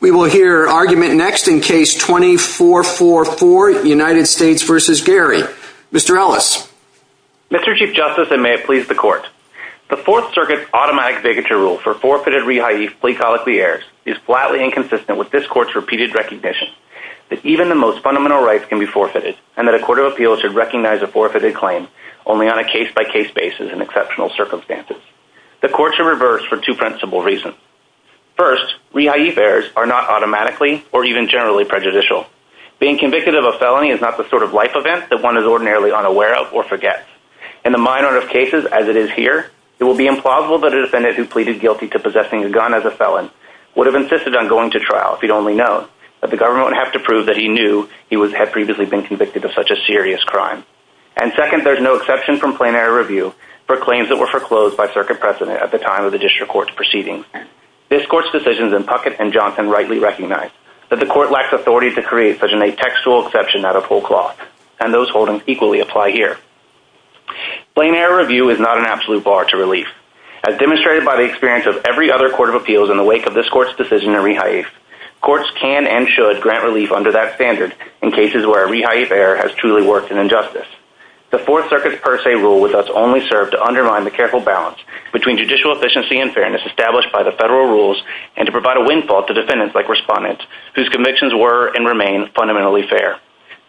We will hear argument next in case 2444, United States v. Gary. Mr. Ellis. Mr. Chief Justice, and may it please the Court, the Fourth Circuit's automatic bigotry rule for forfeited reha'if plea colloquy errors is flatly inconsistent with this Court's repeated recognition that even the most fundamental rights can be forfeited, and that a Court of Appeals should recognize a forfeited claim only on a case-by-case basis in exceptional circumstances. The Court should reverse for two principal reasons. First, reha'if errors are not automatically or even generally prejudicial. Being convicted of a felony is not the sort of life event that one is ordinarily unaware of or forgets. In the minority of cases as it is here, it will be implausible that a defendant who pleaded guilty to possessing a gun as a felon would have insisted on going to trial if he'd only known, but the government would have to prove that he knew he had previously been convicted of such a serious crime. And second, there is no exception from plain error review for claims that were foreclosed by Circuit precedent at the time of the District Court's proceedings. This Court's decisions in Puckett and Johnson rightly recognize that the Court lacks authority to create such a textual exception out of whole cloth, and those holdings equally apply here. Plain error review is not an absolute bar to relief. As demonstrated by the experience of every other Court of Appeals in the wake of this Court's decision to reha'if, Courts can and should grant relief under that standard in cases where a reha'if error has truly worked an injustice. The Fourth Circuit's per se rule with us only served to undermine the careful balance between judicial efficiency and fairness established by the Federal rules and to provide a windfall to defendants like Respondent, whose convictions were and remain fundamentally fair.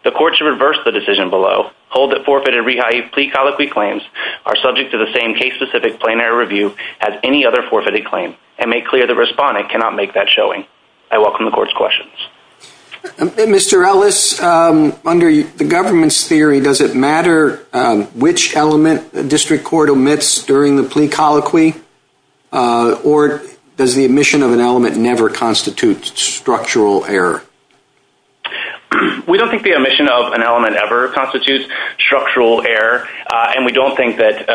The Court should reverse the decision below, hold that forfeited reha'if plea colloquy claims are subject to the same case-specific plain error review as any other forfeited claim, and make clear that Respondent cannot make that showing. I welcome the Court's questions. Mr. Ellis, under the government's theory, does it matter which element a district court omits during the plea colloquy, or does the omission of an element never constitute structural error? We don't think the omission of an element ever constitutes structural error, and we don't think that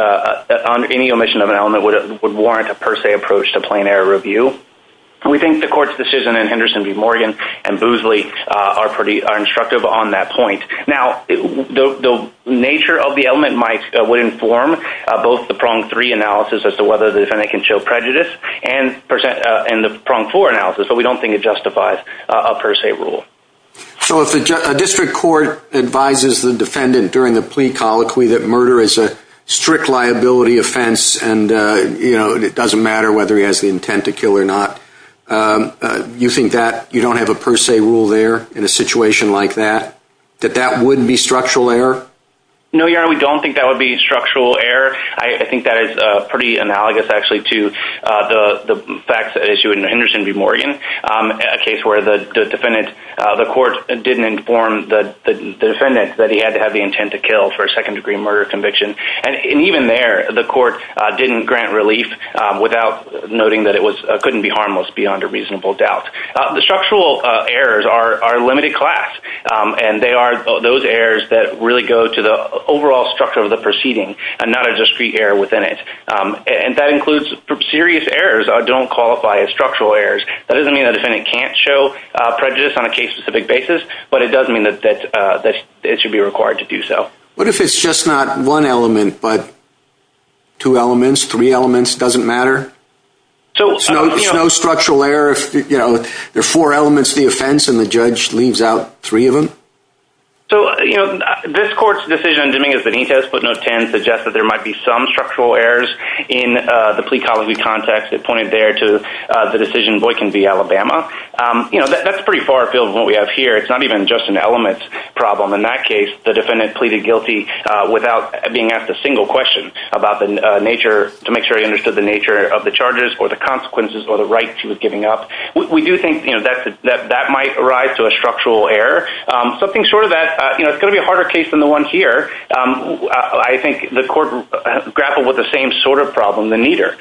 any omission of an element would warrant a per se approach to plain error review. We think the Court's decision in Henderson v. Morgan and Boosley are instructive on that point. Now, the nature of the element would inform both the prong three analysis as to whether the defendant can show prejudice and the prong four analysis, but we don't think it justifies a per se rule. So if a district court advises the defendant during the plea colloquy that murder is a strict liability offense and it doesn't matter whether he has the intent to kill or not, you think that you don't have a per se rule there in a situation like that, that that wouldn't be structural error? No, Your Honor, we don't think that would be structural error. I think that is pretty analogous, actually, to the facts at issue in Henderson v. Morgan, a case where the defendant, the Court didn't inform the defendant that he had to have the intent to kill for a second degree murder conviction. And even there, the Court didn't grant relief without noting that it couldn't be harmless beyond a reasonable doubt. The structural errors are limited class, and they are those errors that really go to the overall structure of the proceeding and not a discrete error within it. And that includes serious errors don't qualify as structural errors. That doesn't mean the defendant can't show prejudice on a case-specific basis, but it does mean that it should be required to do so. What if it's just not one element, but two elements, three elements, doesn't matter? So there's no structural error if, you know, there are four elements of the offense and the judge leaves out three of them? So, you know, this Court's decision in Dominguez-Benitez, footnote 10, suggests that there might be some structural errors in the plea colloquy context. It pointed there to the decision Boykin v. Alabama. You know, that's pretty far afield we have here. It's not even just an element problem. In that case, the defendant pleaded guilty without being asked a single question about the nature, to make sure he understood the nature of the charges or the consequences or the right he was giving up. We do think, you know, that might arise to a structural error. Something short of that, you know, it's going to be a harder case than the one here. I think the Court grappled with the same sort of problem than neither,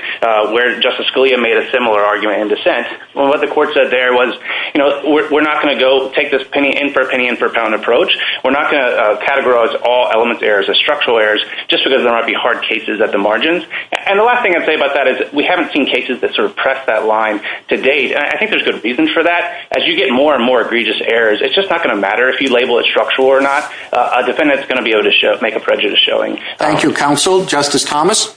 where Justice Scalia made a similar argument in dissent. What the Court said there was, you know, we're not going to go take this penny-in-for-penny-in-for-pound approach. We're not going to categorize all element errors as structural errors, just because there might be hard cases at the margins. And the last thing I'd say about that is we haven't seen cases that sort of press that line to date. And I think there's good reasons for that. As you get more and more egregious errors, it's just not going to matter if you label it structural or not. A defendant's going to be able to make a prejudice showing. Thank you, Counsel. Justice Thomas?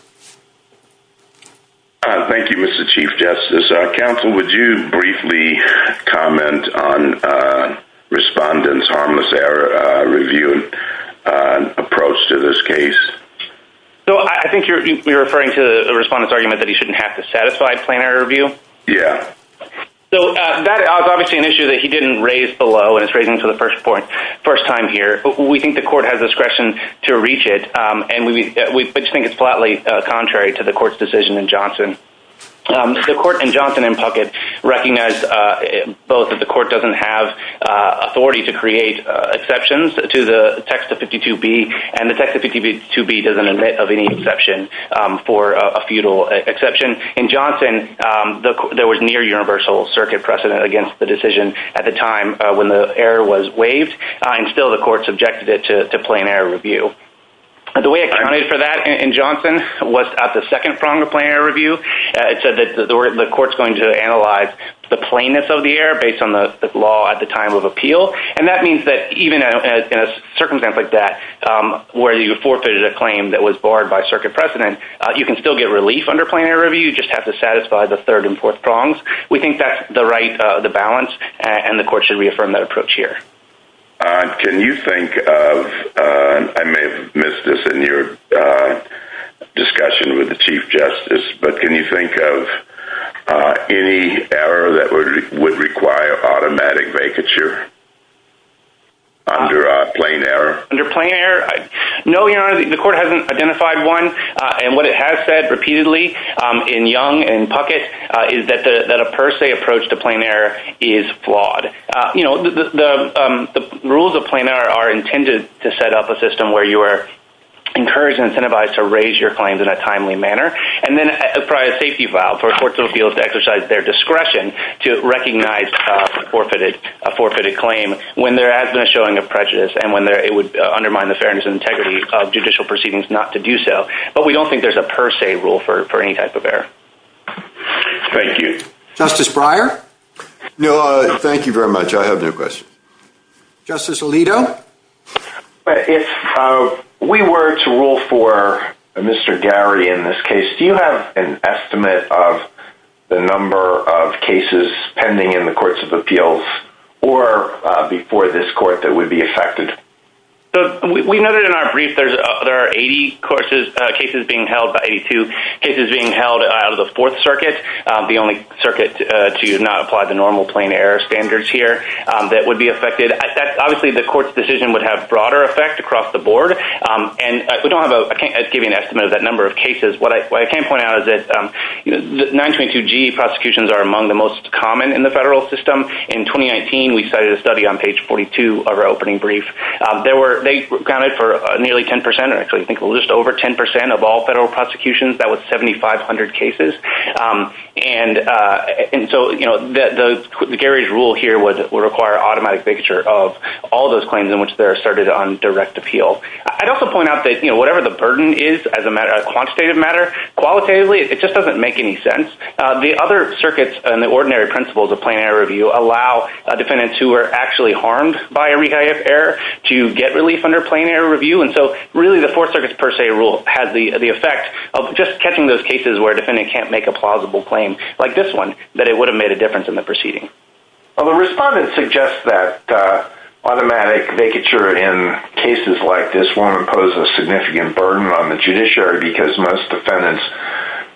Thank you, Mr. Chief Justice. Counsel, would you briefly comment on Respondent's harmless error review approach to this case? So, I think you're referring to the Respondent's argument that he shouldn't have to satisfy plain error review? Yeah. So, that is obviously an issue that he didn't raise below, and it's raising it for the first time here. We think the Court has discretion to reach it, and we think it's flatly contrary to the Court's decision in Johnson. The Court in Johnson and Puckett recognize both that the Court doesn't have authority to create exceptions to the text of 52B, and the text of 52B doesn't admit of any exception for a feudal exception. In Johnson, there was near universal circuit precedent against the decision at the time when the error was waived, and still the Court subjected it to plain error review. The way it counted for that in was at the second prong of plain error review. It said that the Court's going to analyze the plainness of the error based on the law at the time of appeal, and that means that even in a circumstance like that where you forfeited a claim that was barred by circuit precedent, you can still get relief under plain error review. You just have to satisfy the third and fourth prongs. We think that's the right balance, and the Court should reaffirm that approach here. Can you think of, I may have missed this in your discussion with the Chief Justice, but can you think of any error that would require automatic vacature under plain error? Under plain error? No, Your Honor, the Court hasn't identified one, and what it has said repeatedly in Young and Puckett is that a per se approach to plain error is flawed. The rules of plain error are intended to set up a system where you are encouraged and incentivized to raise your claims in a timely manner, and then provide a safety valve for courts of appeals to exercise their discretion to recognize a forfeited claim when there has been a showing of prejudice, and when it would undermine the fairness and integrity of judicial proceedings not to do so, but we don't think there's a per se rule for any type of error. Thank you. Justice Breyer? No, thank you very much. I have no questions. Justice Alito? If we were to rule for Mr. Garrity in this case, do you have an estimate of the number of cases pending in the courts of appeals or before this Court that would be affected? We know that in our brief there are 80 cases being held by 82, cases being held out of Fourth Circuit, the only circuit to not apply the normal plain error standards here that would be affected. Obviously, the Court's decision would have broader effect across the board, and I can't give you an estimate of that number of cases. What I can point out is that 922G prosecutions are among the most common in the federal system. In 2019, we cited a study on page 42 of our opening brief. They counted for nearly 10 percent, or I think just over 10 percent of all federal cases. And so, you know, Garrity's rule here would require automatic bigotry of all those claims in which they're asserted on direct appeal. I'd also point out that, you know, whatever the burden is as a matter of quantitative matter, qualitatively it just doesn't make any sense. The other circuits and the ordinary principles of plain error review allow defendants who are actually harmed by a rehab error to get relief under plain error review. And so, really, the Fourth Circuit's per se rule has the effect of just catching those cases where a defendant can't make a plausible claim, like this one, that it would have made a difference in the proceeding. Well, the respondent suggests that automatic bigotry in cases like this one poses a significant burden on the judiciary because most defendants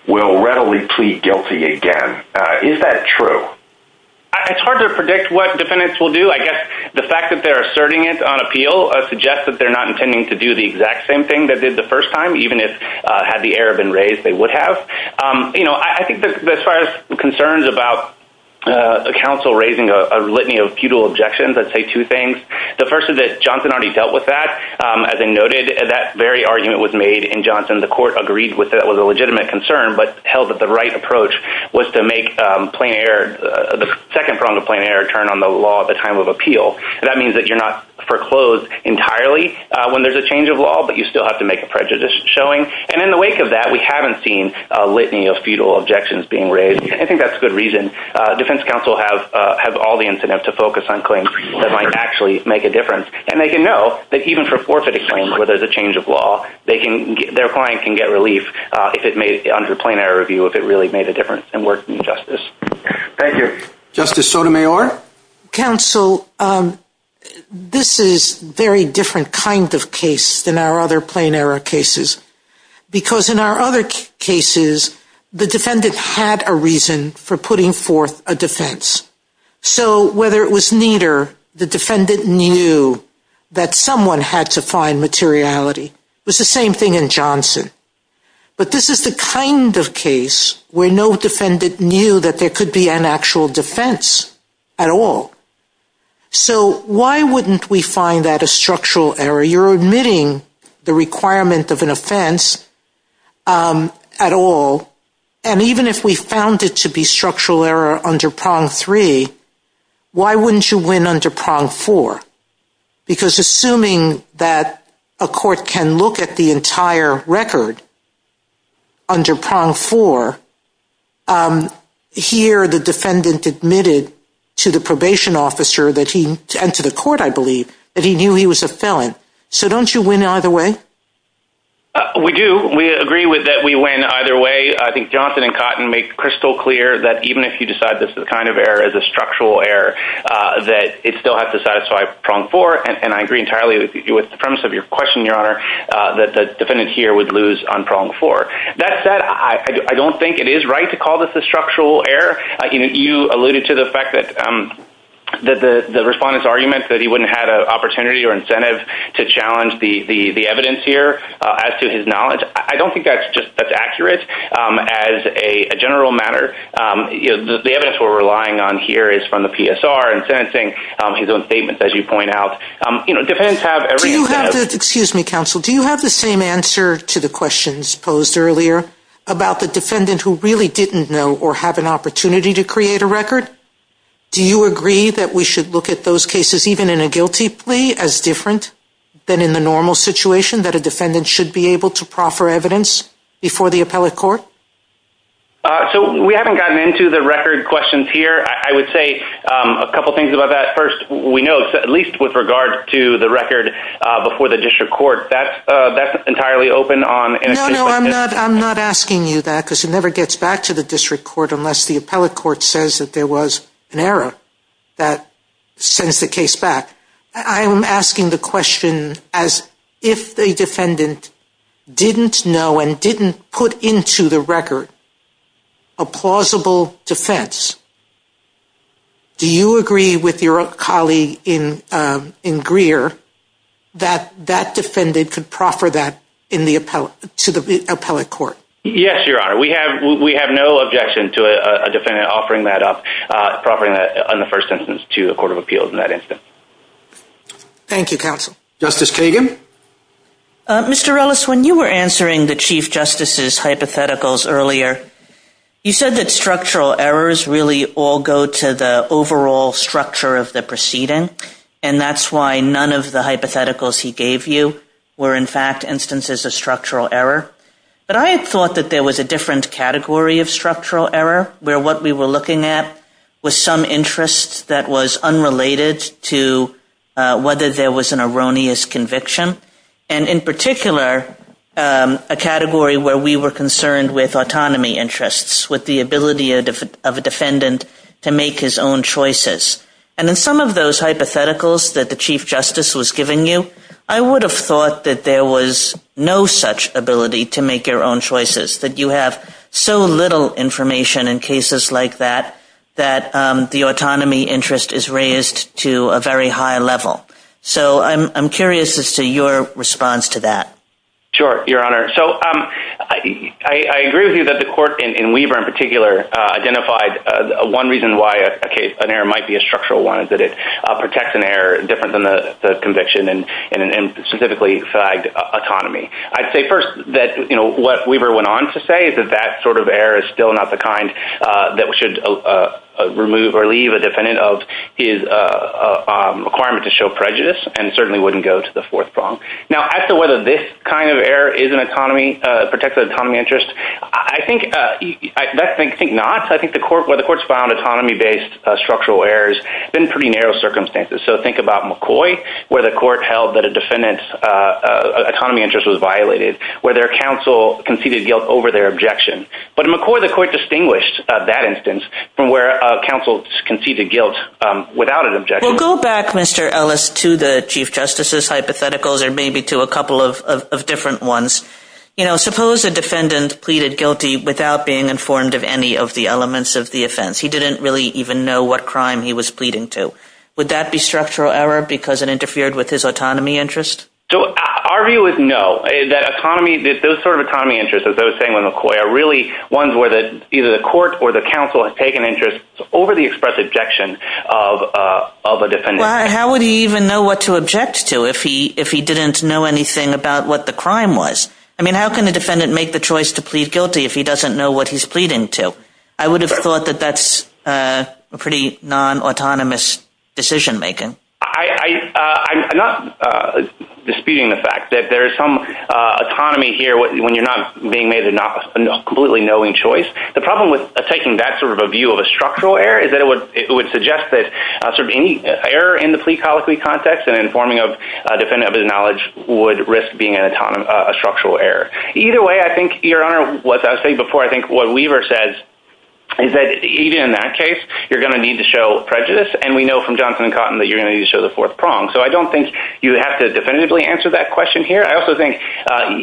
will readily plead guilty again. Is that true? It's hard to predict what defendants will do. I guess the fact that they're asserting it on the first time, even if had the error been raised, they would have. You know, I think as far as concerns about counsel raising a litany of futile objections, I'd say two things. The first is that Johnson already dealt with that. As I noted, that very argument was made in Johnson. The court agreed with it. It was a legitimate concern, but held that the right approach was to make the second prong of plain error turn on the law at the time of appeal. That means that you're not foreclosed entirely when there's a change of law, but you still have to make a prejudice showing. And in the wake of that, we haven't seen a litany of futile objections being raised. I think that's a good reason. Defense counsel have all the incentive to focus on claims that might actually make a difference. And they can know that even for forfeited claims where there's a change of law, their client can get relief under plain error review if it really made a difference and worked in justice. Thank you. Justice Sotomayor? Counsel, this is very different kind of case than our other plain error cases, because in our other cases, the defendant had a reason for putting forth a defense. So whether it was neater, the defendant knew that someone had to find materiality. It was the same thing in Johnson. But this is the kind of case where no defendant knew that there could be an offense at all. So why wouldn't we find that a structural error? You're admitting the requirement of an offense at all. And even if we found it to be structural error under prong three, why wouldn't you win under prong four? Because assuming that a court can look at the defendant admitted to the probation officer that he and to the court, I believe that he knew he was a felon. So don't you win either way? We do. We agree with that. We win either way. I think Johnson and Cotton make crystal clear that even if you decide this is the kind of error as a structural error, that it still has to satisfy prong four. And I agree entirely with the premise of your question, Your Honor, that the defendant here would lose on prong four. That said, I don't think it is right to call this a structural error. You alluded to the fact that the respondent's argument that he wouldn't have an opportunity or incentive to challenge the evidence here as to his knowledge. I don't think that's accurate as a general matter. The evidence we're relying on here is from the PSR and sentencing, his own statements, as you point out. Do you have the same answer to the questions posed earlier about the defendant who really didn't know or have an opportunity to create a record? Do you agree that we should look at those cases even in a guilty plea as different than in the normal situation that a defendant should be able to proffer evidence before the appellate court? So we haven't gotten into the record questions here. I would say a couple of things about that. First, we know, at least with regard to the record before the district court, that's entirely open on... No, no, I'm not asking you that because it never gets back to the district court unless the appellate court says that there was an error that sends the case back. I'm asking the question as if the defendant didn't know and put into the record a plausible defense. Do you agree with your colleague in Greer that that defendant could proffer that to the appellate court? Yes, Your Honor. We have no objection to a defendant offering that up, proffering that on the first instance to the court of appeals in that instance. Thank you, counsel. Justice Kagan? Mr. Ellis, when you were answering the Chief Justice's hypotheticals earlier, you said that structural errors really all go to the overall structure of the proceeding, and that's why none of the hypotheticals he gave you were, in fact, instances of structural error. But I had thought that there was a different category of structural error where what we were looking at was some interest that was unrelated to whether there was an erroneous conviction, and in particular, a category where we were concerned with autonomy interests, with the ability of a defendant to make his own choices. And in some of those hypotheticals that the Chief Justice was giving you, I would have thought that there was no such ability to make your own choices, that you have so little information in cases like that, that the autonomy interest is raised to a very high level. So I'm curious as to your response to that. Sure, Your Honor. So I agree with you that the court, and Weaver in particular, identified one reason why an error might be a structural one, is that it protects an error different than the conviction in a specifically flagged autonomy. I'd say first that, you know, what Weaver went on to say is that that sort of error is still not the kind that should remove or leave a defendant of his requirement to show prejudice, and certainly wouldn't go to the fourth prong. Now, as to whether this kind of error is an autonomy, protects the autonomy interest, I think not. I think where the court's found autonomy-based structural errors have been pretty narrow circumstances. So think about McCoy, where the court held that a autonomy interest was violated, where their counsel conceded guilt over their objection. But in McCoy, the court distinguished that instance from where a counsel conceded guilt without an objection. Well, go back, Mr. Ellis, to the Chief Justice's hypotheticals, or maybe to a couple of different ones. You know, suppose a defendant pleaded guilty without being informed of any of the elements of the offense. He didn't really even know what crime he was pleading to. Would that be structural error because it interfered with his autonomy interest? So our view is no. That autonomy, those sort of autonomy interests, as I was saying with McCoy, are really ones where either the court or the counsel have taken interest over the express objection of a defendant. How would he even know what to object to if he didn't know anything about what the crime was? I mean, how can a defendant make the choice to plead guilty if he doesn't know what he's pleading to? I would have thought that that's a pretty non-autonomous decision-making. I'm not disputing the fact that there is some autonomy here when you're not being made a completely knowing choice. The problem with taking that sort of a view of a structural error is that it would suggest that sort of any error in the plea colloquy context and informing of a defendant of his knowledge would risk being a structural error. Either way, I think, Your Honor, what I was saying before, I think what in that case, you're going to need to show prejudice. And we know from Johnson and Cotton that you're going to show the fourth prong. So I don't think you have to definitively answer that question here. I also think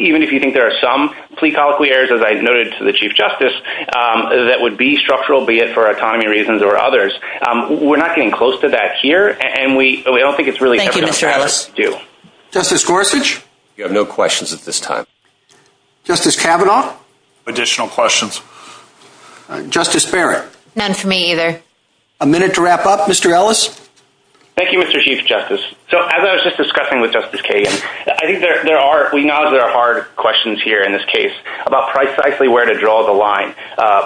even if you think there are some plea colloquy errors, as I noted to the Chief Justice, that would be structural, be it for autonomy reasons or others. We're not getting close to that here. And we don't think it's really... Thank you, Mr. Harris. Justice Gorsuch? You have no questions at this time. Justice Kavanaugh? Additional questions. Justice Barrett? None for me either. A minute to wrap up. Mr. Ellis? Thank you, Mr. Chief Justice. So as I was just discussing with Justice Kagan, I think there are, we know there are hard questions here in this case about precisely where to draw the line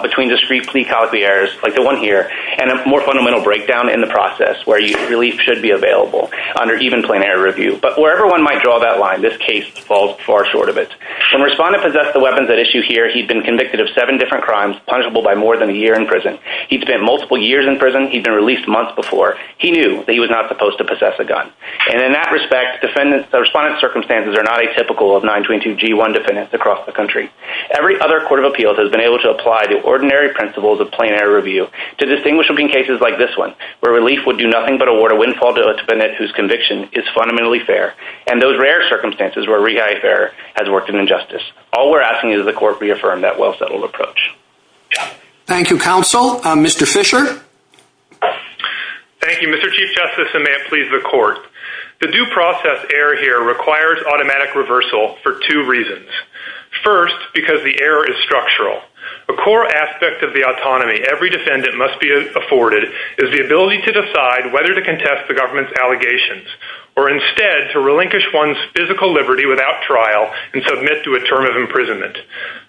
between discrete plea colloquy errors, like the one here, and a more fundamental breakdown in the process where relief should be available under even plenary review. But wherever one might draw that line, this case falls far short of it. When a respondent possessed the weapons at issue here, he'd been convicted of seven different crimes, punishable by more than a year in prison. He'd spent multiple years in prison, he'd been released months before. He knew that he was not supposed to possess a gun. And in that respect, the respondent's circumstances are not atypical of 922g1 defendants across the country. Every other court of appeals has been able to apply the ordinary principles of plenary review to distinguish between cases like this one, where relief would do nothing but award a windfall to a defendant whose conviction is fundamentally fair, and those All we're asking is that the court reaffirm that well-settled approach. Thank you, counsel. Mr. Fisher? Thank you, Mr. Chief Justice, and may it please the court. The due process error here requires automatic reversal for two reasons. First, because the error is structural. A core aspect of the autonomy every defendant must be afforded is the ability to decide whether to contest the government's allegations, or instead to relinquish one's physical liberty without trial and submit to a term of imprisonment.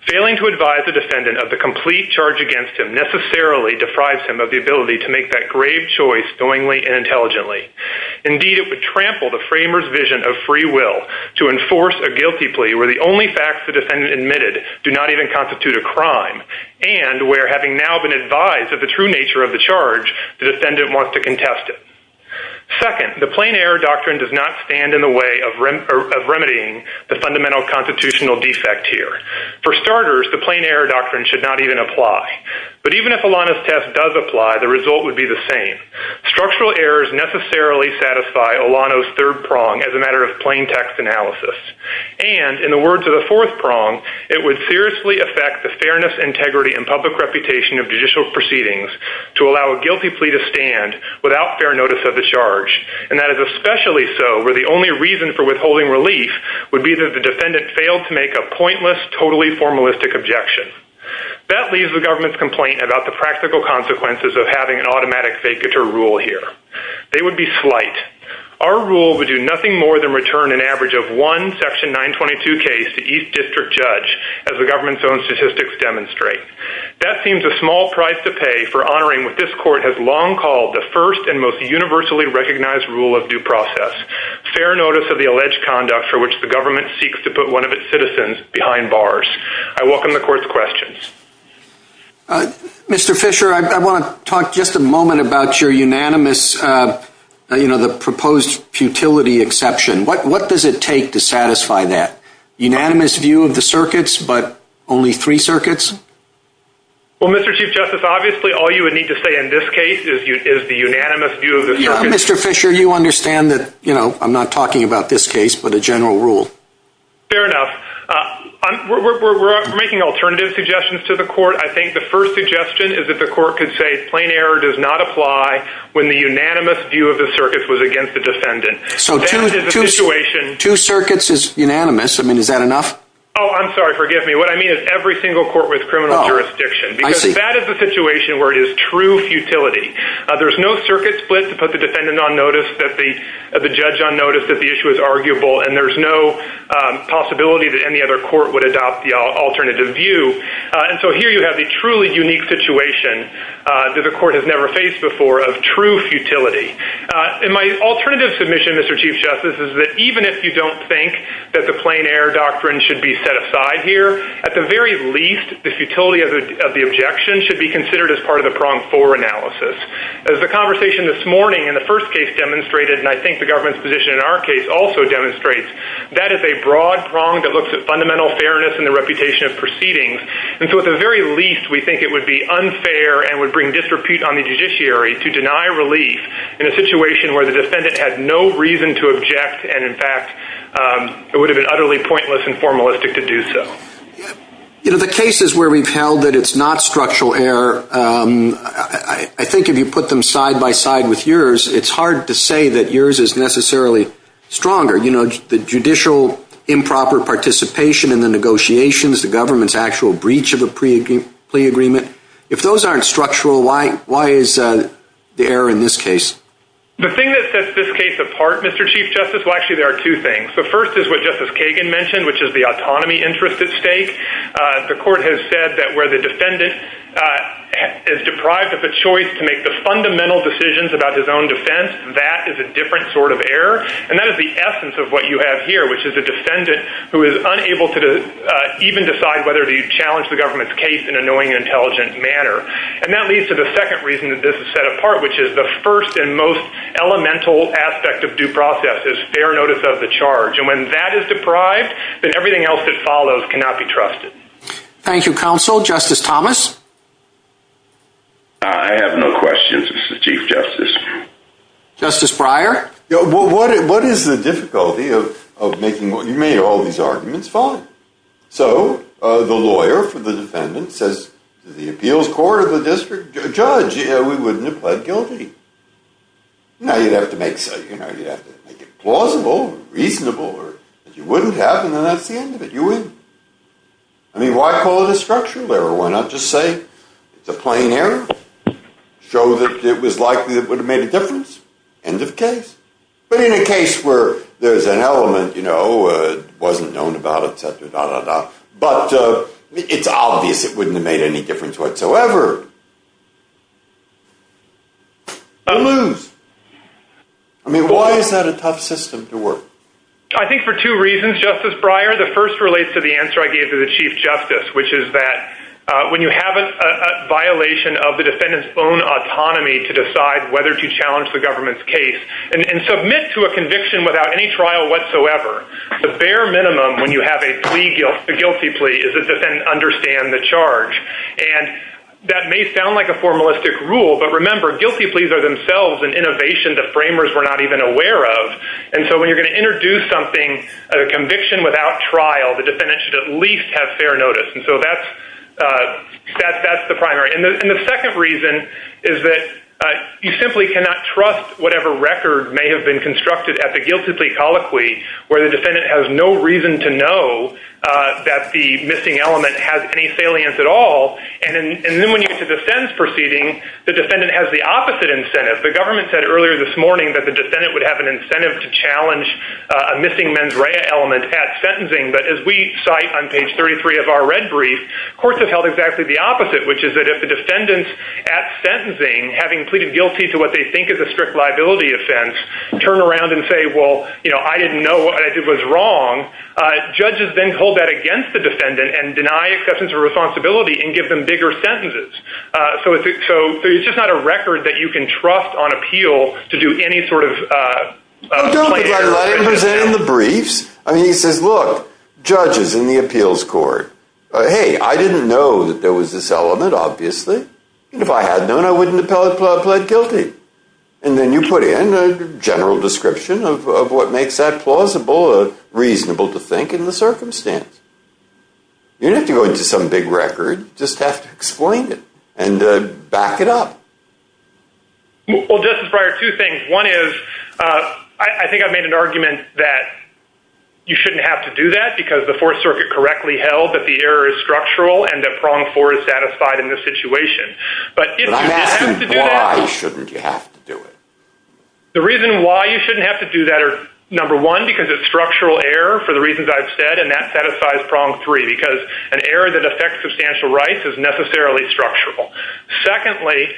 Failing to advise the defendant of the complete charge against him necessarily deprives him of the ability to make that grave choice knowingly and intelligently. Indeed, it would trample the framers' vision of free will to enforce a guilty plea where the only facts the defendant admitted do not even constitute a crime, and where, having now been advised of the true nature of the charge, the defendant wants to contest it. Second, the constitutional defect here. For starters, the plain error doctrine should not even apply. But even if Olano's test does apply, the result would be the same. Structural errors necessarily satisfy Olano's third prong as a matter of plain text analysis. And, in the words of the fourth prong, it would seriously affect the fairness, integrity, and public reputation of judicial proceedings to allow a guilty plea to stand without fair notice of the charge. And that is especially so where the only reason for withholding relief would be that the defendant failed to make a pointless, totally formalistic objection. That leaves the government's complaint about the practical consequences of having an automatic vacatur rule here. They would be slight. Our rule would do nothing more than return an average of one section 922 case to each district judge, as the government's own statistics demonstrate. That seems a small price to pay for honoring what this court has long called the first and most universally recognized rule of due process, fair notice of the alleged conduct for which the government seeks to put one of its citizens behind bars. I welcome the court's questions. Mr. Fisher, I want to talk just a moment about your unanimous, you know, the proposed futility exception. What does it take to satisfy that unanimous view of the circuits, but only three circuits? Well, Mr. Chief Justice, obviously, all you would need to say in this case is the unanimous view of the circuit. Mr. Fisher, you understand that, you know, I'm not talking about this case, but a general rule. Fair enough. We're making alternative suggestions to the court. I think the first suggestion is that the court could say plain error does not apply when the unanimous view of the circuits was against the defendant. So two circuits is unanimous. I mean, is that enough? Oh, I'm sorry. Forgive me. What I mean is every single court with criminal jurisdiction. That is the situation where it is true futility. There's no circuit split to put the defendant on notice that the judge on notice that the issue is arguable, and there's no possibility that any other court would adopt the alternative view. And so here you have the truly unique situation that the court has never faced before of true futility. And my alternative submission, Mr. Chief Justice, is that even if you don't think that the plain error doctrine should be set aside here, at the very least, the futility of the objection should be considered as part of the prong for analysis. As the conversation this morning in the first case demonstrated, and I think the government's position in our case also demonstrates, that is a broad prong that looks at fundamental fairness and the reputation of proceedings. And so at the very least, we think it would be unfair and would bring disrepute on the judiciary to deny relief in a situation where the defendant had no reason to object. And in fact, it would have been utterly pointless and You know, the cases where we've held that it's not structural error, I think if you put them side by side with yours, it's hard to say that yours is necessarily stronger. You know, the judicial improper participation in the negotiations, the government's actual breach of a plea agreement, if those aren't structural, why is the error in this case? The thing that sets this case apart, Mr. Chief Justice, well, actually, there are two The first is what Justice Kagan mentioned, which is the autonomy interest at stake. The court has said that where the defendant is deprived of a choice to make the fundamental decisions about his own defense, that is a different sort of error. And that is the essence of what you have here, which is a defendant who is unable to even decide whether to challenge the government's case in a knowing and intelligent manner. And that leads to the second reason that this is set apart, which is the first and most elemental aspect of due process is fair notice of the charge. And when that is deprived, then everything else that follows cannot be trusted. Thank you, counsel. Justice Thomas? I have no questions, Mr. Chief Justice. Justice Breyer? What is the difficulty of making, you made all these arguments, fine. So the lawyer for the defendant says to the appeals court or the district judge, we wouldn't have pled guilty. Now, you'd have to make it plausible, reasonable, or you wouldn't have, and then that's the end of it. You win. I mean, why call it a structural error? Why not just say it's a plain error? Show that it was likely it would have made a difference? End of case. But in a case where there's an element, you know, it wasn't known about, et cetera, da, da, da. But it's obvious it wouldn't have made any difference whatsoever. You lose. I mean, why is that a tough system to work? I think for two reasons, Justice Breyer. The first relates to the answer I gave to the Chief Justice, which is that when you have a violation of the defendant's own autonomy to decide whether to challenge the government's case and submit to a conviction without any trial whatsoever, the bare minimum when you have a plea, a guilty plea, is that the defendant understand the charge. And that may sound like a formalistic rule, but remember, guilty pleas are themselves an innovation the framers were not even aware of. And so when you're going to introduce something, a conviction without trial, the defendant should at least have fair notice. And so that's the primary. And the second reason is that you simply cannot trust whatever record may have been constructed at the guilty plea colloquy, where the defendant has no reason to know that the missing element has any salience at all. And then when you get to the sentence proceeding, the defendant has the opposite incentive. The government said earlier this morning that the defendant would have an incentive to challenge a missing mens rea element at sentencing. But as we cite on page 33 of our red brief, courts have held exactly the opposite, which is that if the defendant at sentencing, having pleaded guilty to what they think is a turn around and say, well, you know, I didn't know what I did was wrong. Judges then hold that against the defendant and deny acceptance of responsibility and give them bigger sentences. So it's just not a record that you can trust on appeal to do any sort of. The briefs, he says, look, judges in the appeals court. Hey, I didn't know that there was this obviously. And if I had known, I wouldn't have pled guilty. And then you put in a general description of what makes that plausible, reasonable to think in the circumstance. You don't have to go into some big record, just have to explain it and back it up. Well, Justice Breyer, two things. One is I think I've made an argument that you shouldn't have to do that because the Fourth Circuit correctly held that the error is structural and that prong four is satisfied in this situation. But why shouldn't you have to do it? The reason why you shouldn't have to do that are number one, because it's structural error for the reasons I've said, and that satisfies prong three, because an error that affects substantial rights is necessarily structural. Secondly,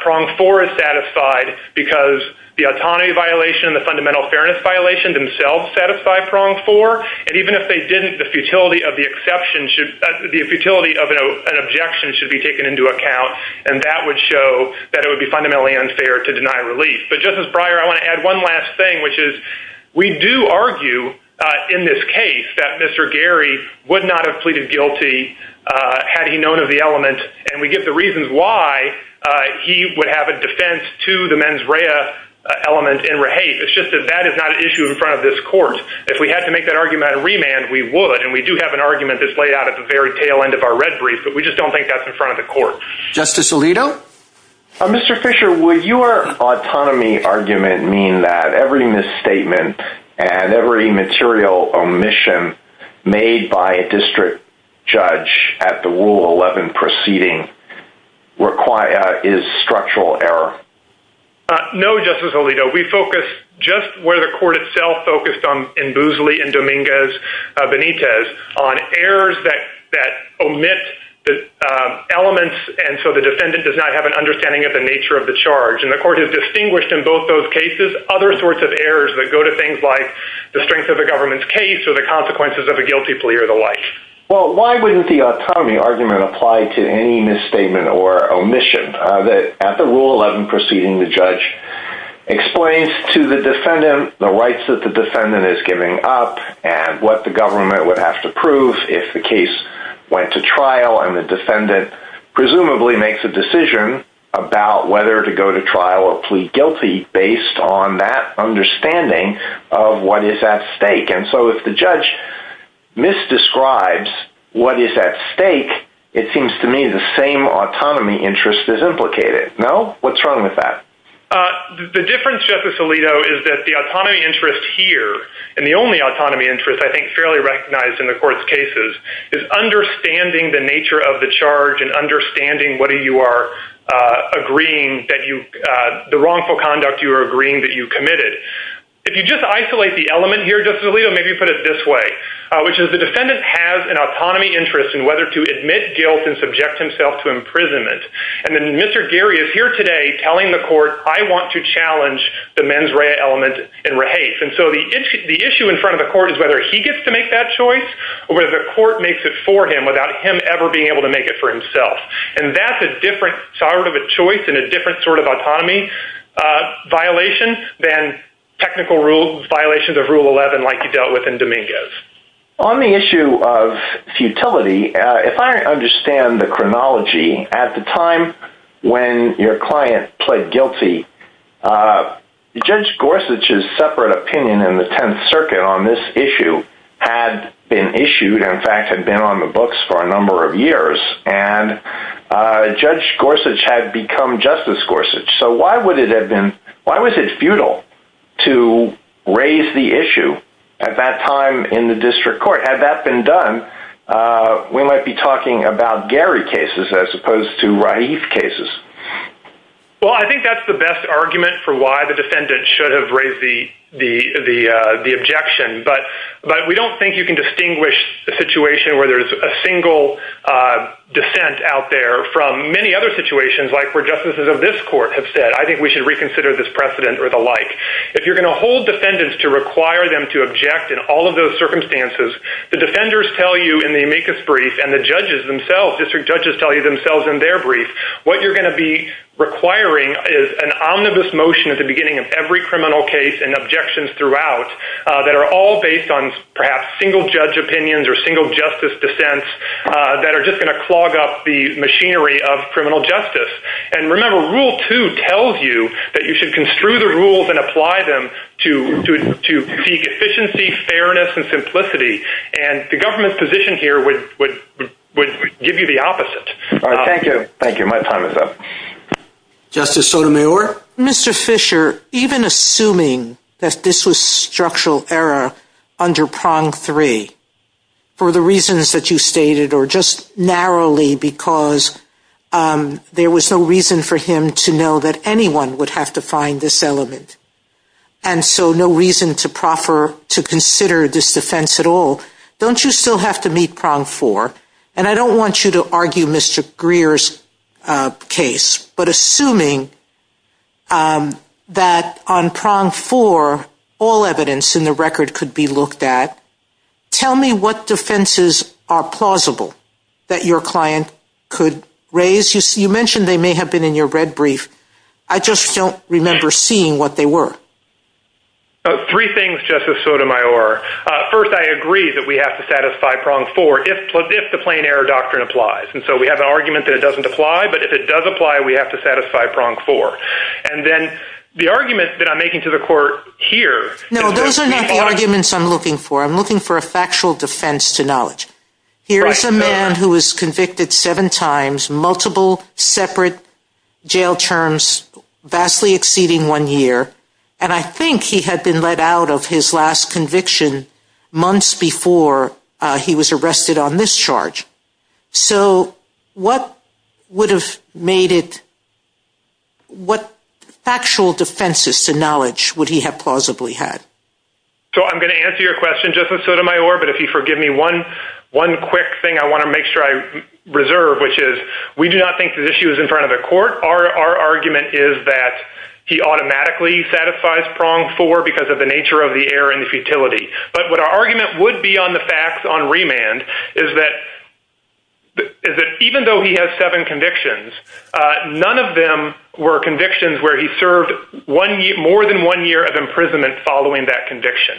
prong four is satisfied because the autonomy violation, the fundamental fairness violation themselves satisfy prong four. And even if they didn't, the futility of the exception should be a futility of an objection should be taken into account. And that would show that it would be fundamentally unfair to deny relief. But Justice Breyer, I want to add one last thing, which is we do argue in this case that Mr. Gary would not have pleaded guilty had he known of the element. And we get the reasons why he would have a defense to the mens rea element in rehape. It's just that that is not an issue in front of this court. If we had to make that argument at a remand, we would and we do have an argument that's laid out at the very tail end of our red brief, but we just don't think that's in front of the court. Justice Alito. Mr. Fisher, would your autonomy argument mean that every misstatement and every material omission made by a district judge at the rule 11 proceeding require is structural error? No, Justice Alito, we focus just where the court itself focused on in Boosley and Dominguez Benitez on errors that that omit the elements. And so the defendant does not have an understanding of the nature of the charge. And the court has distinguished in both those cases, other sorts of errors that go to things like the strength of the government's case or the consequences of a guilty plea or the like. Well, why wouldn't the autonomy argument apply to any judge at rule 11 proceeding? The judge explains to the defendant the rights that the defendant is giving up and what the government would have to prove if the case went to trial and the defendant presumably makes a decision about whether to go to trial or plead guilty based on that understanding of what is at stake. And so if the judge misdescribes what is at stake, it seems to me the same autonomy interest is implicated. No? What's wrong with that? The difference, Justice Alito, is that the autonomy interest here, and the only autonomy interest I think fairly recognized in the court's cases, is understanding the nature of the charge and understanding what you are agreeing that you, the wrongful conduct you are agreeing that you committed. If you just isolate the element here, Justice Alito, maybe you put it this way, which is that the court is here today telling the court, I want to challenge the mens rea element in rehafe. And so the issue in front of the court is whether he gets to make that choice or whether the court makes it for him without him ever being able to make it for himself. And that's a different sort of a choice and a different sort of autonomy violation than technical violations of rule 11 like you dealt with in Dominguez. On the issue of futility, if I understand the chronology, at the time when your client pled guilty, Judge Gorsuch's separate opinion in the Tenth Circuit on this issue had been issued, in fact had been on the books for a number of years, and Judge Gorsuch had become Justice Gorsuch. So why would it have been, why was it futile to raise the issue at that time in the district court? Had that been done, we might be talking about Gary cases as opposed to rehafe cases. Well, I think that's the best argument for why the defendant should have raised the objection. But we don't think you can distinguish a situation where there's a single dissent out there from many other situations like where justices of this court have said, I think we should reconsider this precedent or the like. If you're going to hold defendants to require them to object in all of those circumstances, the defenders tell you in the amicus brief and the judges themselves, district judges tell you themselves in their brief, what you're going to be requiring is an omnibus motion at the beginning of every criminal case and objections throughout that are all based on perhaps single judge opinions or single justice dissents that are just going to clog up the machinery of criminal justice. And remember, rule two tells you that you should construe the rules and apply them to seek efficiency, fairness, and simplicity. And the government's position here would give you the opposite. All right. Thank you. Thank you. My time is up. Justice Sotomayor. Mr. Fisher, even assuming that this was structural error under prong three, for the reasons that you stated or just narrowly because there was no reason for him to know that anyone would have to find this element. And so no reason to proffer to consider this defense at all. Don't you still have to meet prong four? And I don't want you to argue Mr. Greer's case, but assuming that on prong four, all evidence in the record could be looked at. Tell me what defenses are plausible that your client could raise. You mentioned they may have been in your red brief. I just don't remember seeing what they were. Three things, Justice Sotomayor. First, I agree that we have to satisfy prong four if the plain error doctrine applies. And so we have an argument that it doesn't apply, but if it does apply, we have to satisfy prong four. And then the argument that I'm making to the court here. No, those are not the arguments I'm looking for. I'm looking for a factual defense to knowledge. Here is a man who was convicted seven times, multiple separate jail terms, vastly exceeding one year. And I think he had been let out of his last conviction months before he was arrested on discharge. So what would have made it, what factual defenses to knowledge would he have plausibly had? So I'm going to answer your question, Justice Sotomayor, but if you forgive me one quick thing, I want to make sure I reserve, which is we do not think the issue is in front of the court. Our argument is that he automatically satisfies prong four because of the nature of error and futility. But what our argument would be on the facts on remand is that even though he has seven convictions, none of them were convictions where he served more than one year of imprisonment following that conviction.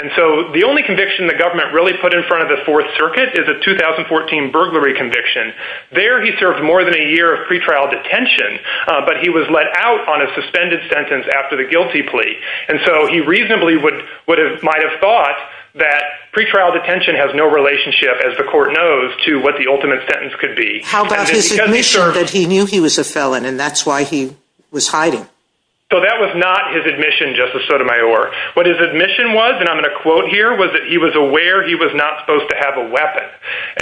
And so the only conviction the government really put in front of the Fourth Circuit is a 2014 burglary conviction. There he served more than a year of pretrial detention, but he was let out on a suspended sentence after the guilty plea. And so he reasonably might have thought that pretrial detention has no relationship, as the court knows, to what the ultimate sentence could be. How about his admission that he knew he was a felon and that's why he was hiding? So that was not his admission, Justice Sotomayor. What his admission was, and I'm going to quote here, was that he was aware he was not supposed to have a weapon.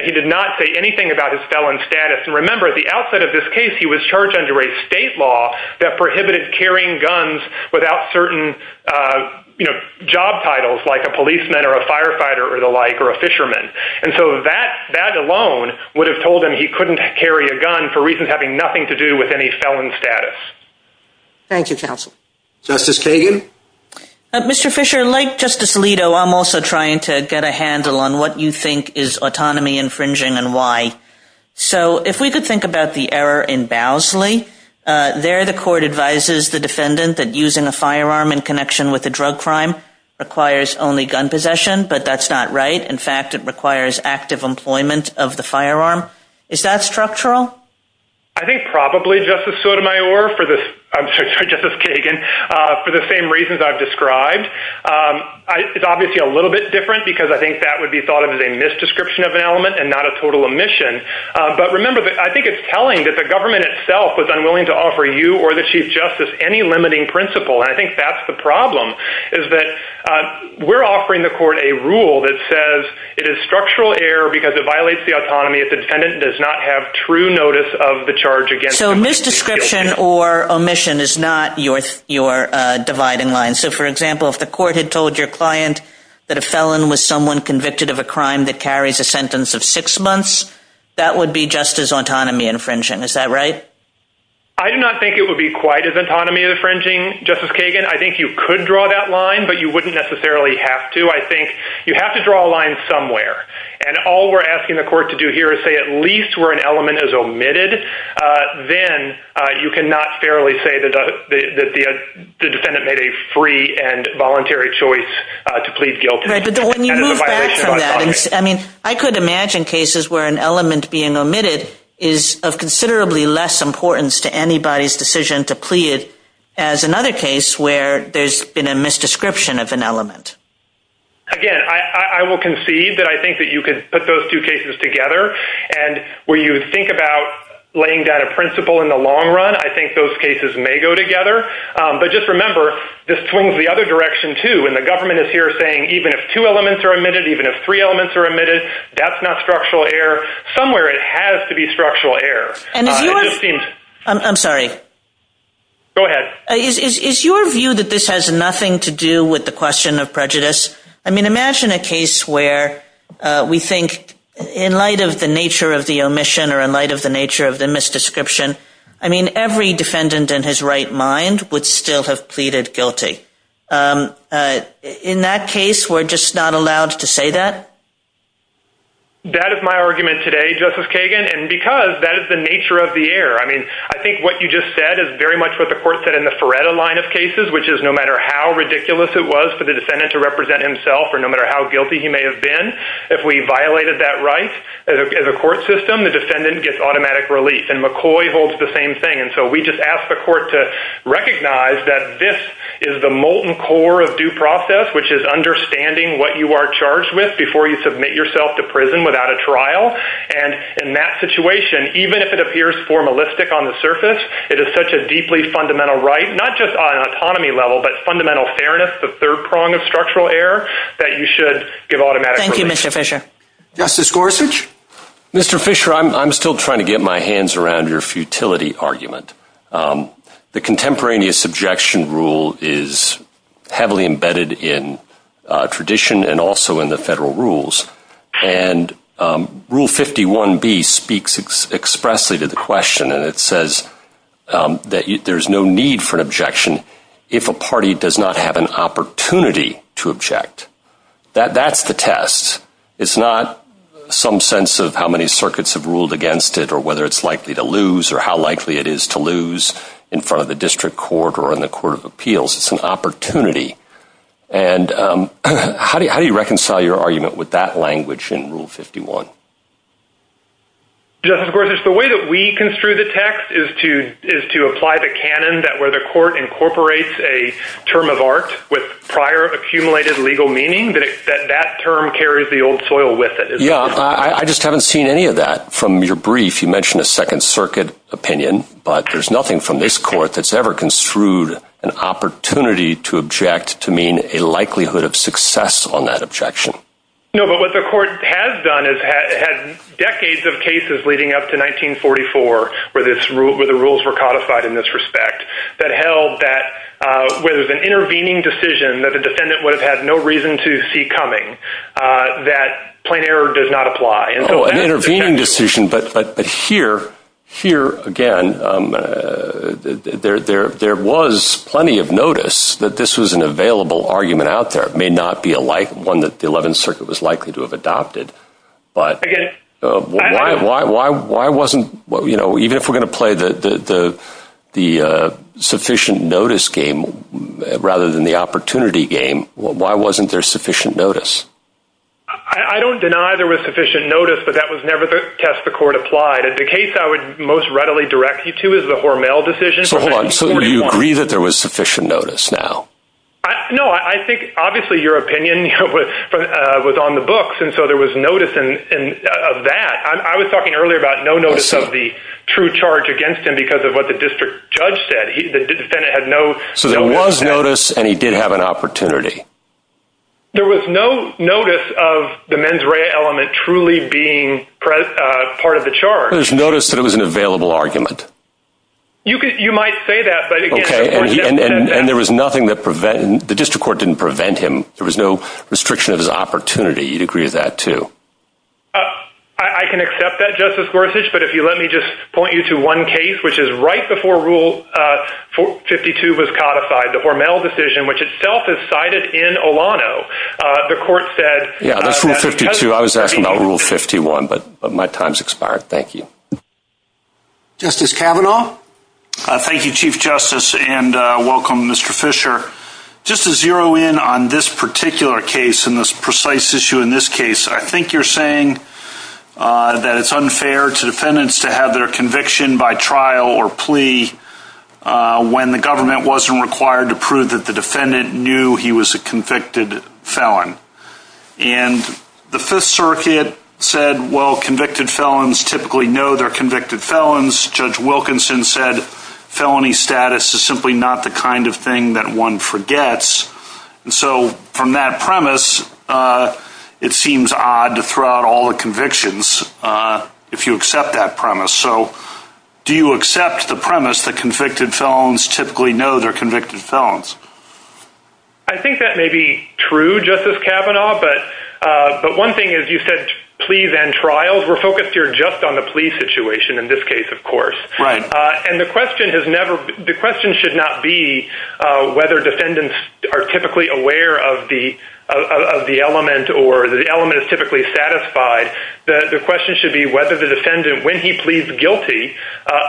He did not say anything about his felon status. And remember, at the outset of this case, he was charged under a state law that prohibited carrying guns without certain, you know, job titles like a policeman or a firefighter or the like or a fisherman. And so that alone would have told him he couldn't carry a gun for reasons having nothing to do with any felon status. Thank you, counsel. Justice Kagan. Mr. Fisher, like Justice Alito, I'm also trying to get a handle on what you think is autonomy infringing and why. So if we could think about the error in Bowsley, there the court advises the defendant that using a firearm in connection with a drug crime requires only gun possession, but that's not right. In fact, it requires active employment of the firearm. Is that structural? I think probably, Justice Sotomayor, for this, I'm sorry, Justice Kagan, for the same reasons I've described. It's obviously a little bit different because I think that would be thought of as a misdescription of an element and not a total omission. But remember, I think it's telling that the government itself was unwilling to offer you or the chief justice any limiting principle, and I think that's the problem, is that we're offering the court a rule that says it is structural error because it violates the autonomy if the defendant does not have true notice of the charge against him. So a misdescription or omission is not your dividing line. So, for example, if the court had told your client that a felon was someone convicted of a crime that carries a sentence of six months, that would be just as autonomy infringing. Is that right? I do not think it would be quite as autonomy infringing, Justice Kagan. I think you could draw that line, but you wouldn't necessarily have to. I think you have to draw a line somewhere, and all we're asking the court to do here is say at least where an element is omitted, then you cannot fairly say that the defendant made a free and voluntary choice to plead guilty. Right, but when you move back from that, I mean, I could imagine cases where an element being omitted is of considerably less importance to anybody's decision to plead as another case where there's been a misdescription of an element. Again, I will concede that I think that you could put those two cases together, and where you think about laying down a principle in the long run, I think those cases may go together. But just remember, this swings the other direction too, and the government is here saying even if two elements are omitted, even if three elements are omitted, that's not structural error. Somewhere it has to be structural error. I'm sorry. Go ahead. Is your view that this has nothing to do with the question of prejudice? I mean, imagine a case where we think in light of the nature of the omission or in light of the nature of the misdescription, I mean, every defendant in his right mind would still have pleaded guilty. In that case, we're just not allowed to say that? That is my argument today, Justice Kagan, and because that is the nature of the air. I mean, I think what you just said is very much what the court said in the Feretta line of cases, which is no matter how ridiculous it was for the defendant to represent himself, or no matter how guilty he may have been, if we violated that right, as a court system, the defendant gets automatic relief. And McCoy holds the same thing. And so we just ask the court to recognize that this is the molten core of due process, which is understanding what you are charged with before you submit yourself to prison without a trial. And in that situation, even if it appears formalistic on the surface, it is such a deeply fundamental right, not just on an autonomy level, but fundamental fairness, the third prong of structural error, that you should give automatic relief. Thank you, Mr. Fisher. Justice Gorsuch? Mr. Fisher, I'm still trying to get my hands around your futility argument. The contemporaneous objection rule is heavily embedded in tradition and also in the federal if a party does not have an opportunity to object. That's the test. It's not some sense of how many circuits have ruled against it or whether it's likely to lose or how likely it is to lose in front of the district court or in the court of appeals. It's an opportunity. And how do you reconcile your argument with that language in Rule 51? Justice Gorsuch, the way that we construe the text is to apply the canon that where court incorporates a term of art with prior accumulated legal meaning that that term carries the old soil with it. Yeah, I just haven't seen any of that from your brief. You mentioned a Second Circuit opinion, but there's nothing from this court that's ever construed an opportunity to object to mean a likelihood of success on that objection. No, but what the court has done is had decades of cases leading up to 1944 where this rule, where the rules were codified in this respect that held that whether it was an intervening decision that the defendant would have had no reason to see coming, that plain error does not apply. Oh, an intervening decision, but here, here again, there was plenty of notice that this was an available argument out there. It may not be one that the Eleventh Circuit was likely to have adopted, but why wasn't, you know, even if we're going to play the sufficient notice game rather than the opportunity game, why wasn't there sufficient notice? I don't deny there was sufficient notice, but that was never the test the court applied. And the case I would most readily direct you to is the Hormel decision. So you agree that there was sufficient notice now? No, I think obviously your opinion was on the books, and so there was notice of that. I was against him because of what the district judge said. The defendant had no... So there was notice, and he did have an opportunity. There was no notice of the mens rea element truly being part of the charge. There was notice that it was an available argument. You could, you might say that, but again... Okay, and there was nothing that prevented, the district court didn't prevent him. There was no restriction of his opportunity. You'd agree with that too? Uh, I can accept that, Justice Gorsuch, but if you let me just point you to one case, which is right before Rule 52 was codified, the Hormel decision, which itself is cited in Olano, the court said... Yeah, that's Rule 52. I was asking about Rule 51, but my time's expired. Thank you. Justice Kavanaugh? Thank you, Chief Justice, and welcome, Mr. Fisher. Just to zero in on this particular case, and this precise issue in this case, I think you're saying that it's unfair to defendants to have their conviction by trial or plea when the government wasn't required to prove that the defendant knew he was a convicted felon. And the Fifth Circuit said, well, convicted felons typically know they're convicted felons. Judge Wilkinson said felony status is simply not the it seems odd to throw out all the convictions if you accept that premise. So, do you accept the premise that convicted felons typically know they're convicted felons? I think that may be true, Justice Kavanaugh, but one thing is you said pleas and trials. We're focused here just on the plea situation in this case, of course. Right. And the question should not be whether defendants are typically aware of the element or the element is typically satisfied. The question should be whether the defendant, when he pleads guilty,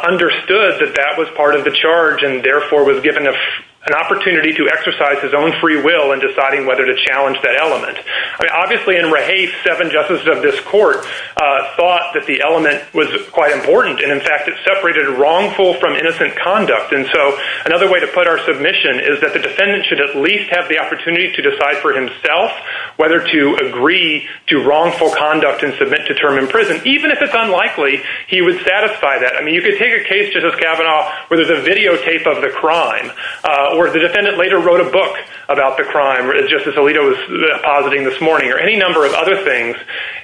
understood that that was part of the charge and therefore was given an opportunity to exercise his own free will in deciding whether to challenge that element. Obviously, in Rahafe, seven justices of this court thought that the element was quite important. And, in fact, it separated wrongful from innocent conduct. And so another way to put our submission is that the defendant should at least have the opportunity to decide for himself whether to agree to wrongful conduct and submit to term in prison, even if it's unlikely he would satisfy that. I mean, you could take a case, Justice Kavanaugh, where there's a videotape of the crime or the defendant later wrote a book about the crime, Justice Alito was positing this morning, or any number of other things.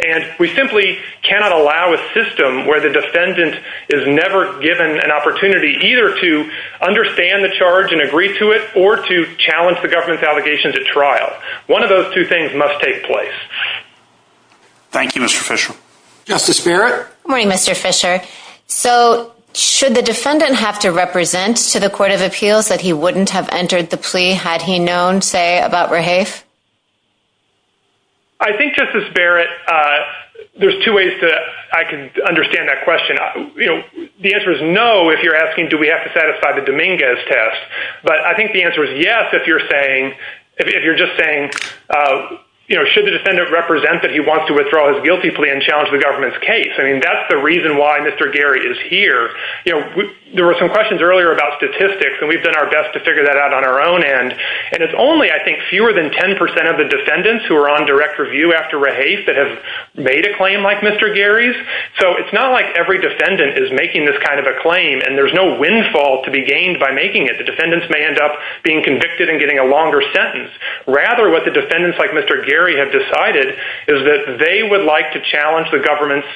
And we simply cannot allow a system where defendant is never given an opportunity either to understand the charge and agree to it or to challenge the government's allegations at trial. One of those two things must take place. Thank you, Mr. Fisher. Justice Barrett. Good morning, Mr. Fisher. So should the defendant have to represent to the Court of Appeals that he wouldn't have entered the plea had he known, say, about Rahafe? I think, Justice Barrett, there's two ways that I can understand that question. You know, the answer is no, if you're asking, do we have to satisfy the Dominguez test? But I think the answer is yes, if you're saying, if you're just saying, you know, should the defendant represent that he wants to withdraw his guilty plea and challenge the government's case? I mean, that's the reason why Mr. Gary is here. You know, there were some questions earlier about statistics, and we've done our best to figure that out on our own end. And it's only, I think, fewer than 10% of the defendants who are on direct review after Rahafe that have made a claim like Mr. Gary's. So it's not like every defendant is making this kind of a claim, and there's no windfall to be gained by making it. The defendants may end up being convicted and getting a longer sentence. Rather, what the defendants like Mr. Gary have decided is that they would like to challenge the government's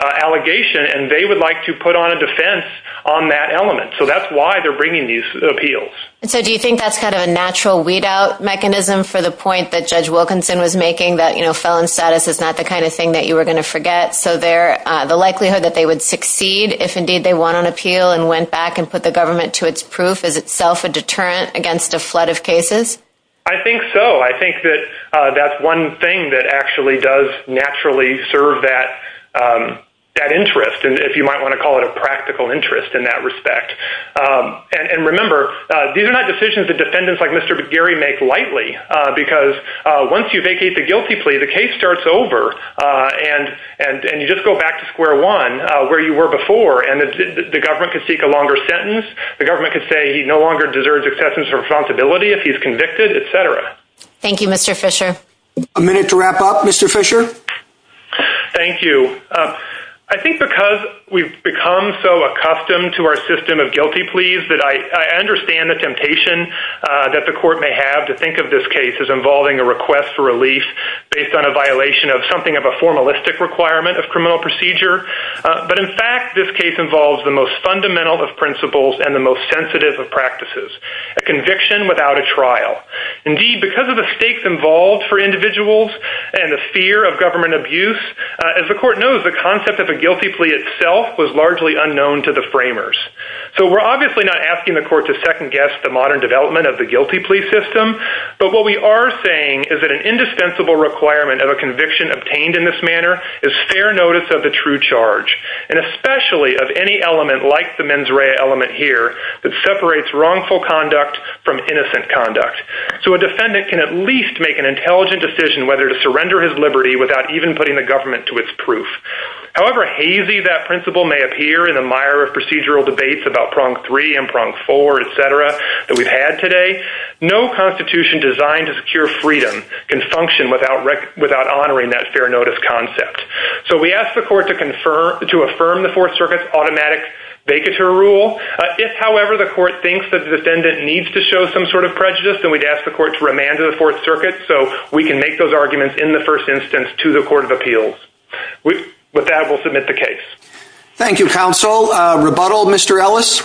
allegation, and they would like to put on a defense on that element. So that's why they're bringing these appeals. And so do you think that's kind of a natural weed out mechanism for the point that Judge Wilkinson was making that, you know, felon status is not the kind of thing that you were going to forget? So there, the likelihood that they would succeed if indeed they want an appeal and went back and put the government to its proof is itself a deterrent against a flood of cases? I think so. I think that that's one thing that actually does naturally serve that, that interest, and if you might want to call it a practical interest in that respect. And remember, these are not decisions that defendants like Mr. Gary make lightly, because once you vacate the guilty plea, the case starts over. And, and you just go back to square one where you were before and the government could seek a longer sentence. The government could say he no longer deserves acceptance for responsibility if he's convicted, etc. Thank you, Mr. Fisher. A minute to wrap up, Mr. Fisher. Thank you. I think because we've become so accustomed to our system of guilty pleas that I understand the temptation that the court may have to think of this case as involving a request for relief based on a violation of something of a formalistic requirement of criminal procedure. But in fact, this case involves the most fundamental of principles and the most sensitive of practices, a conviction without a trial. Indeed, because of the stakes involved for individuals and the fear of government abuse, as the court knows, the concept of a guilty plea itself was largely unknown to the framers. So we're obviously not asking the court to second guess the modern development of the guilty plea system. But what we are saying is that an indispensable requirement of a conviction obtained in this manner is fair notice of the true charge, and especially of any element like the mens rea element here that separates wrongful conduct from innocent conduct. So a defendant can at least make an intelligent decision whether to surrender his liberty without even putting the government to its proof. However hazy that principle may appear in the mire of procedural debates about prong three and prong four, et cetera, that we've had today, no constitution designed to secure freedom can function without honoring that fair notice concept. So we ask the court to affirm the Fourth Circuit's automatic vacateur rule. If, however, the court thinks that the defendant needs to show some sort of prejudice, then we'd ask the court to remand to the Fourth Circuit so we can make those arguments in the first instance to the Court of Appeals. With that, we'll submit the case. Thank you, counsel. Rebuttal, Mr. Ellis?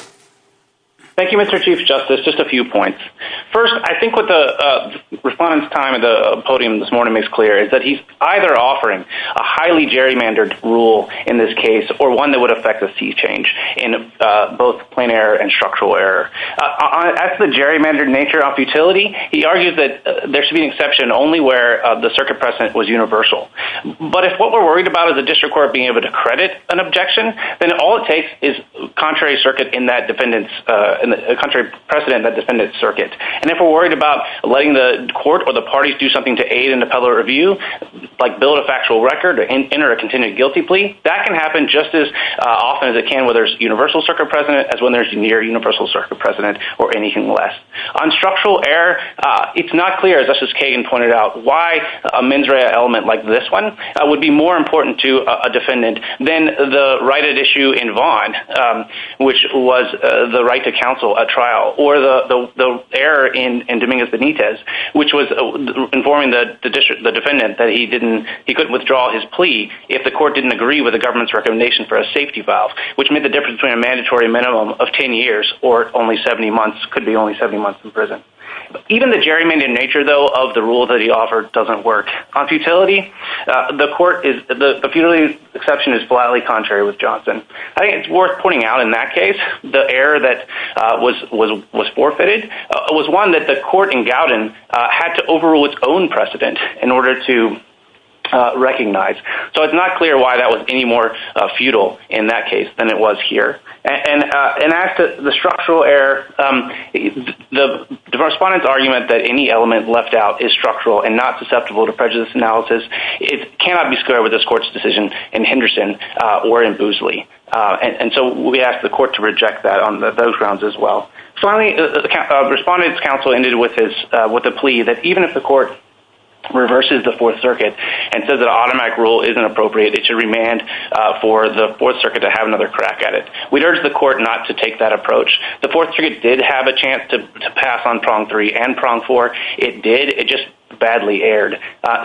Thank you, Mr. Chief Justice. Just a few points. First, I think what the respondent's time at the podium this morning makes clear is that he's either offering a highly gerrymandered rule in this case or one that would affect a cease-change in both plain error and structural error. As to the gerrymandered nature of futility, he argues that there should be an exception only where the circuit precedent was universal. But if what we're worried about is a district court being able to credit an objection, then all it takes is a contrary precedent in that defendant's circuit. And if we're worried about letting the court or the parties do something to aid in the can happen just as often as it can when there's universal circuit precedent as when there's near universal circuit precedent or anything less. On structural error, it's not clear, as Justice Kagan pointed out, why a mens rea element like this one would be more important to a defendant than the righted issue in Vaughan, which was the right to counsel a trial, or the error in Dominguez Benitez, which was informing the defendant that he couldn't withdraw his plea if the court didn't agree with the government's recommendation for a safety valve, which made the difference between a mandatory minimum of 10 years or only 70 months, could be only 70 months in prison. Even the gerrymandered nature, though, of the rule that he offered doesn't work. On futility, the court is, the futility exception is flatly contrary with Johnson. I think it's worth pointing out in that case, the error that was forfeited was one that the court in Gowden had to overrule its own any more futile in that case than it was here. And as to the structural error, the respondent's argument that any element left out is structural and not susceptible to prejudice analysis cannot be squared with this court's decision in Henderson or in Boosley. And so we ask the court to reject that on those grounds as well. Finally, the respondent's counsel ended with a plea that even if the court reverses the Fourth Circuit and says that automatic rule isn't appropriate, it should remand for the Fourth Circuit to have another crack at it. We'd urge the court not to take that approach. The Fourth Circuit did have a chance to pass on prong three and prong four. It did, it just badly erred.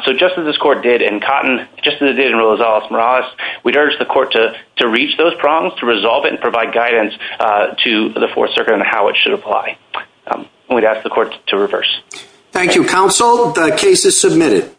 So just as this court did in Cotton, just as it did in Rosales-Morales, we'd urge the court to reach those prongs, to resolve it and provide guidance to the Fourth Circuit on how it should apply. And we'd ask the court to reverse. Thank you, counsel. The case is submitted.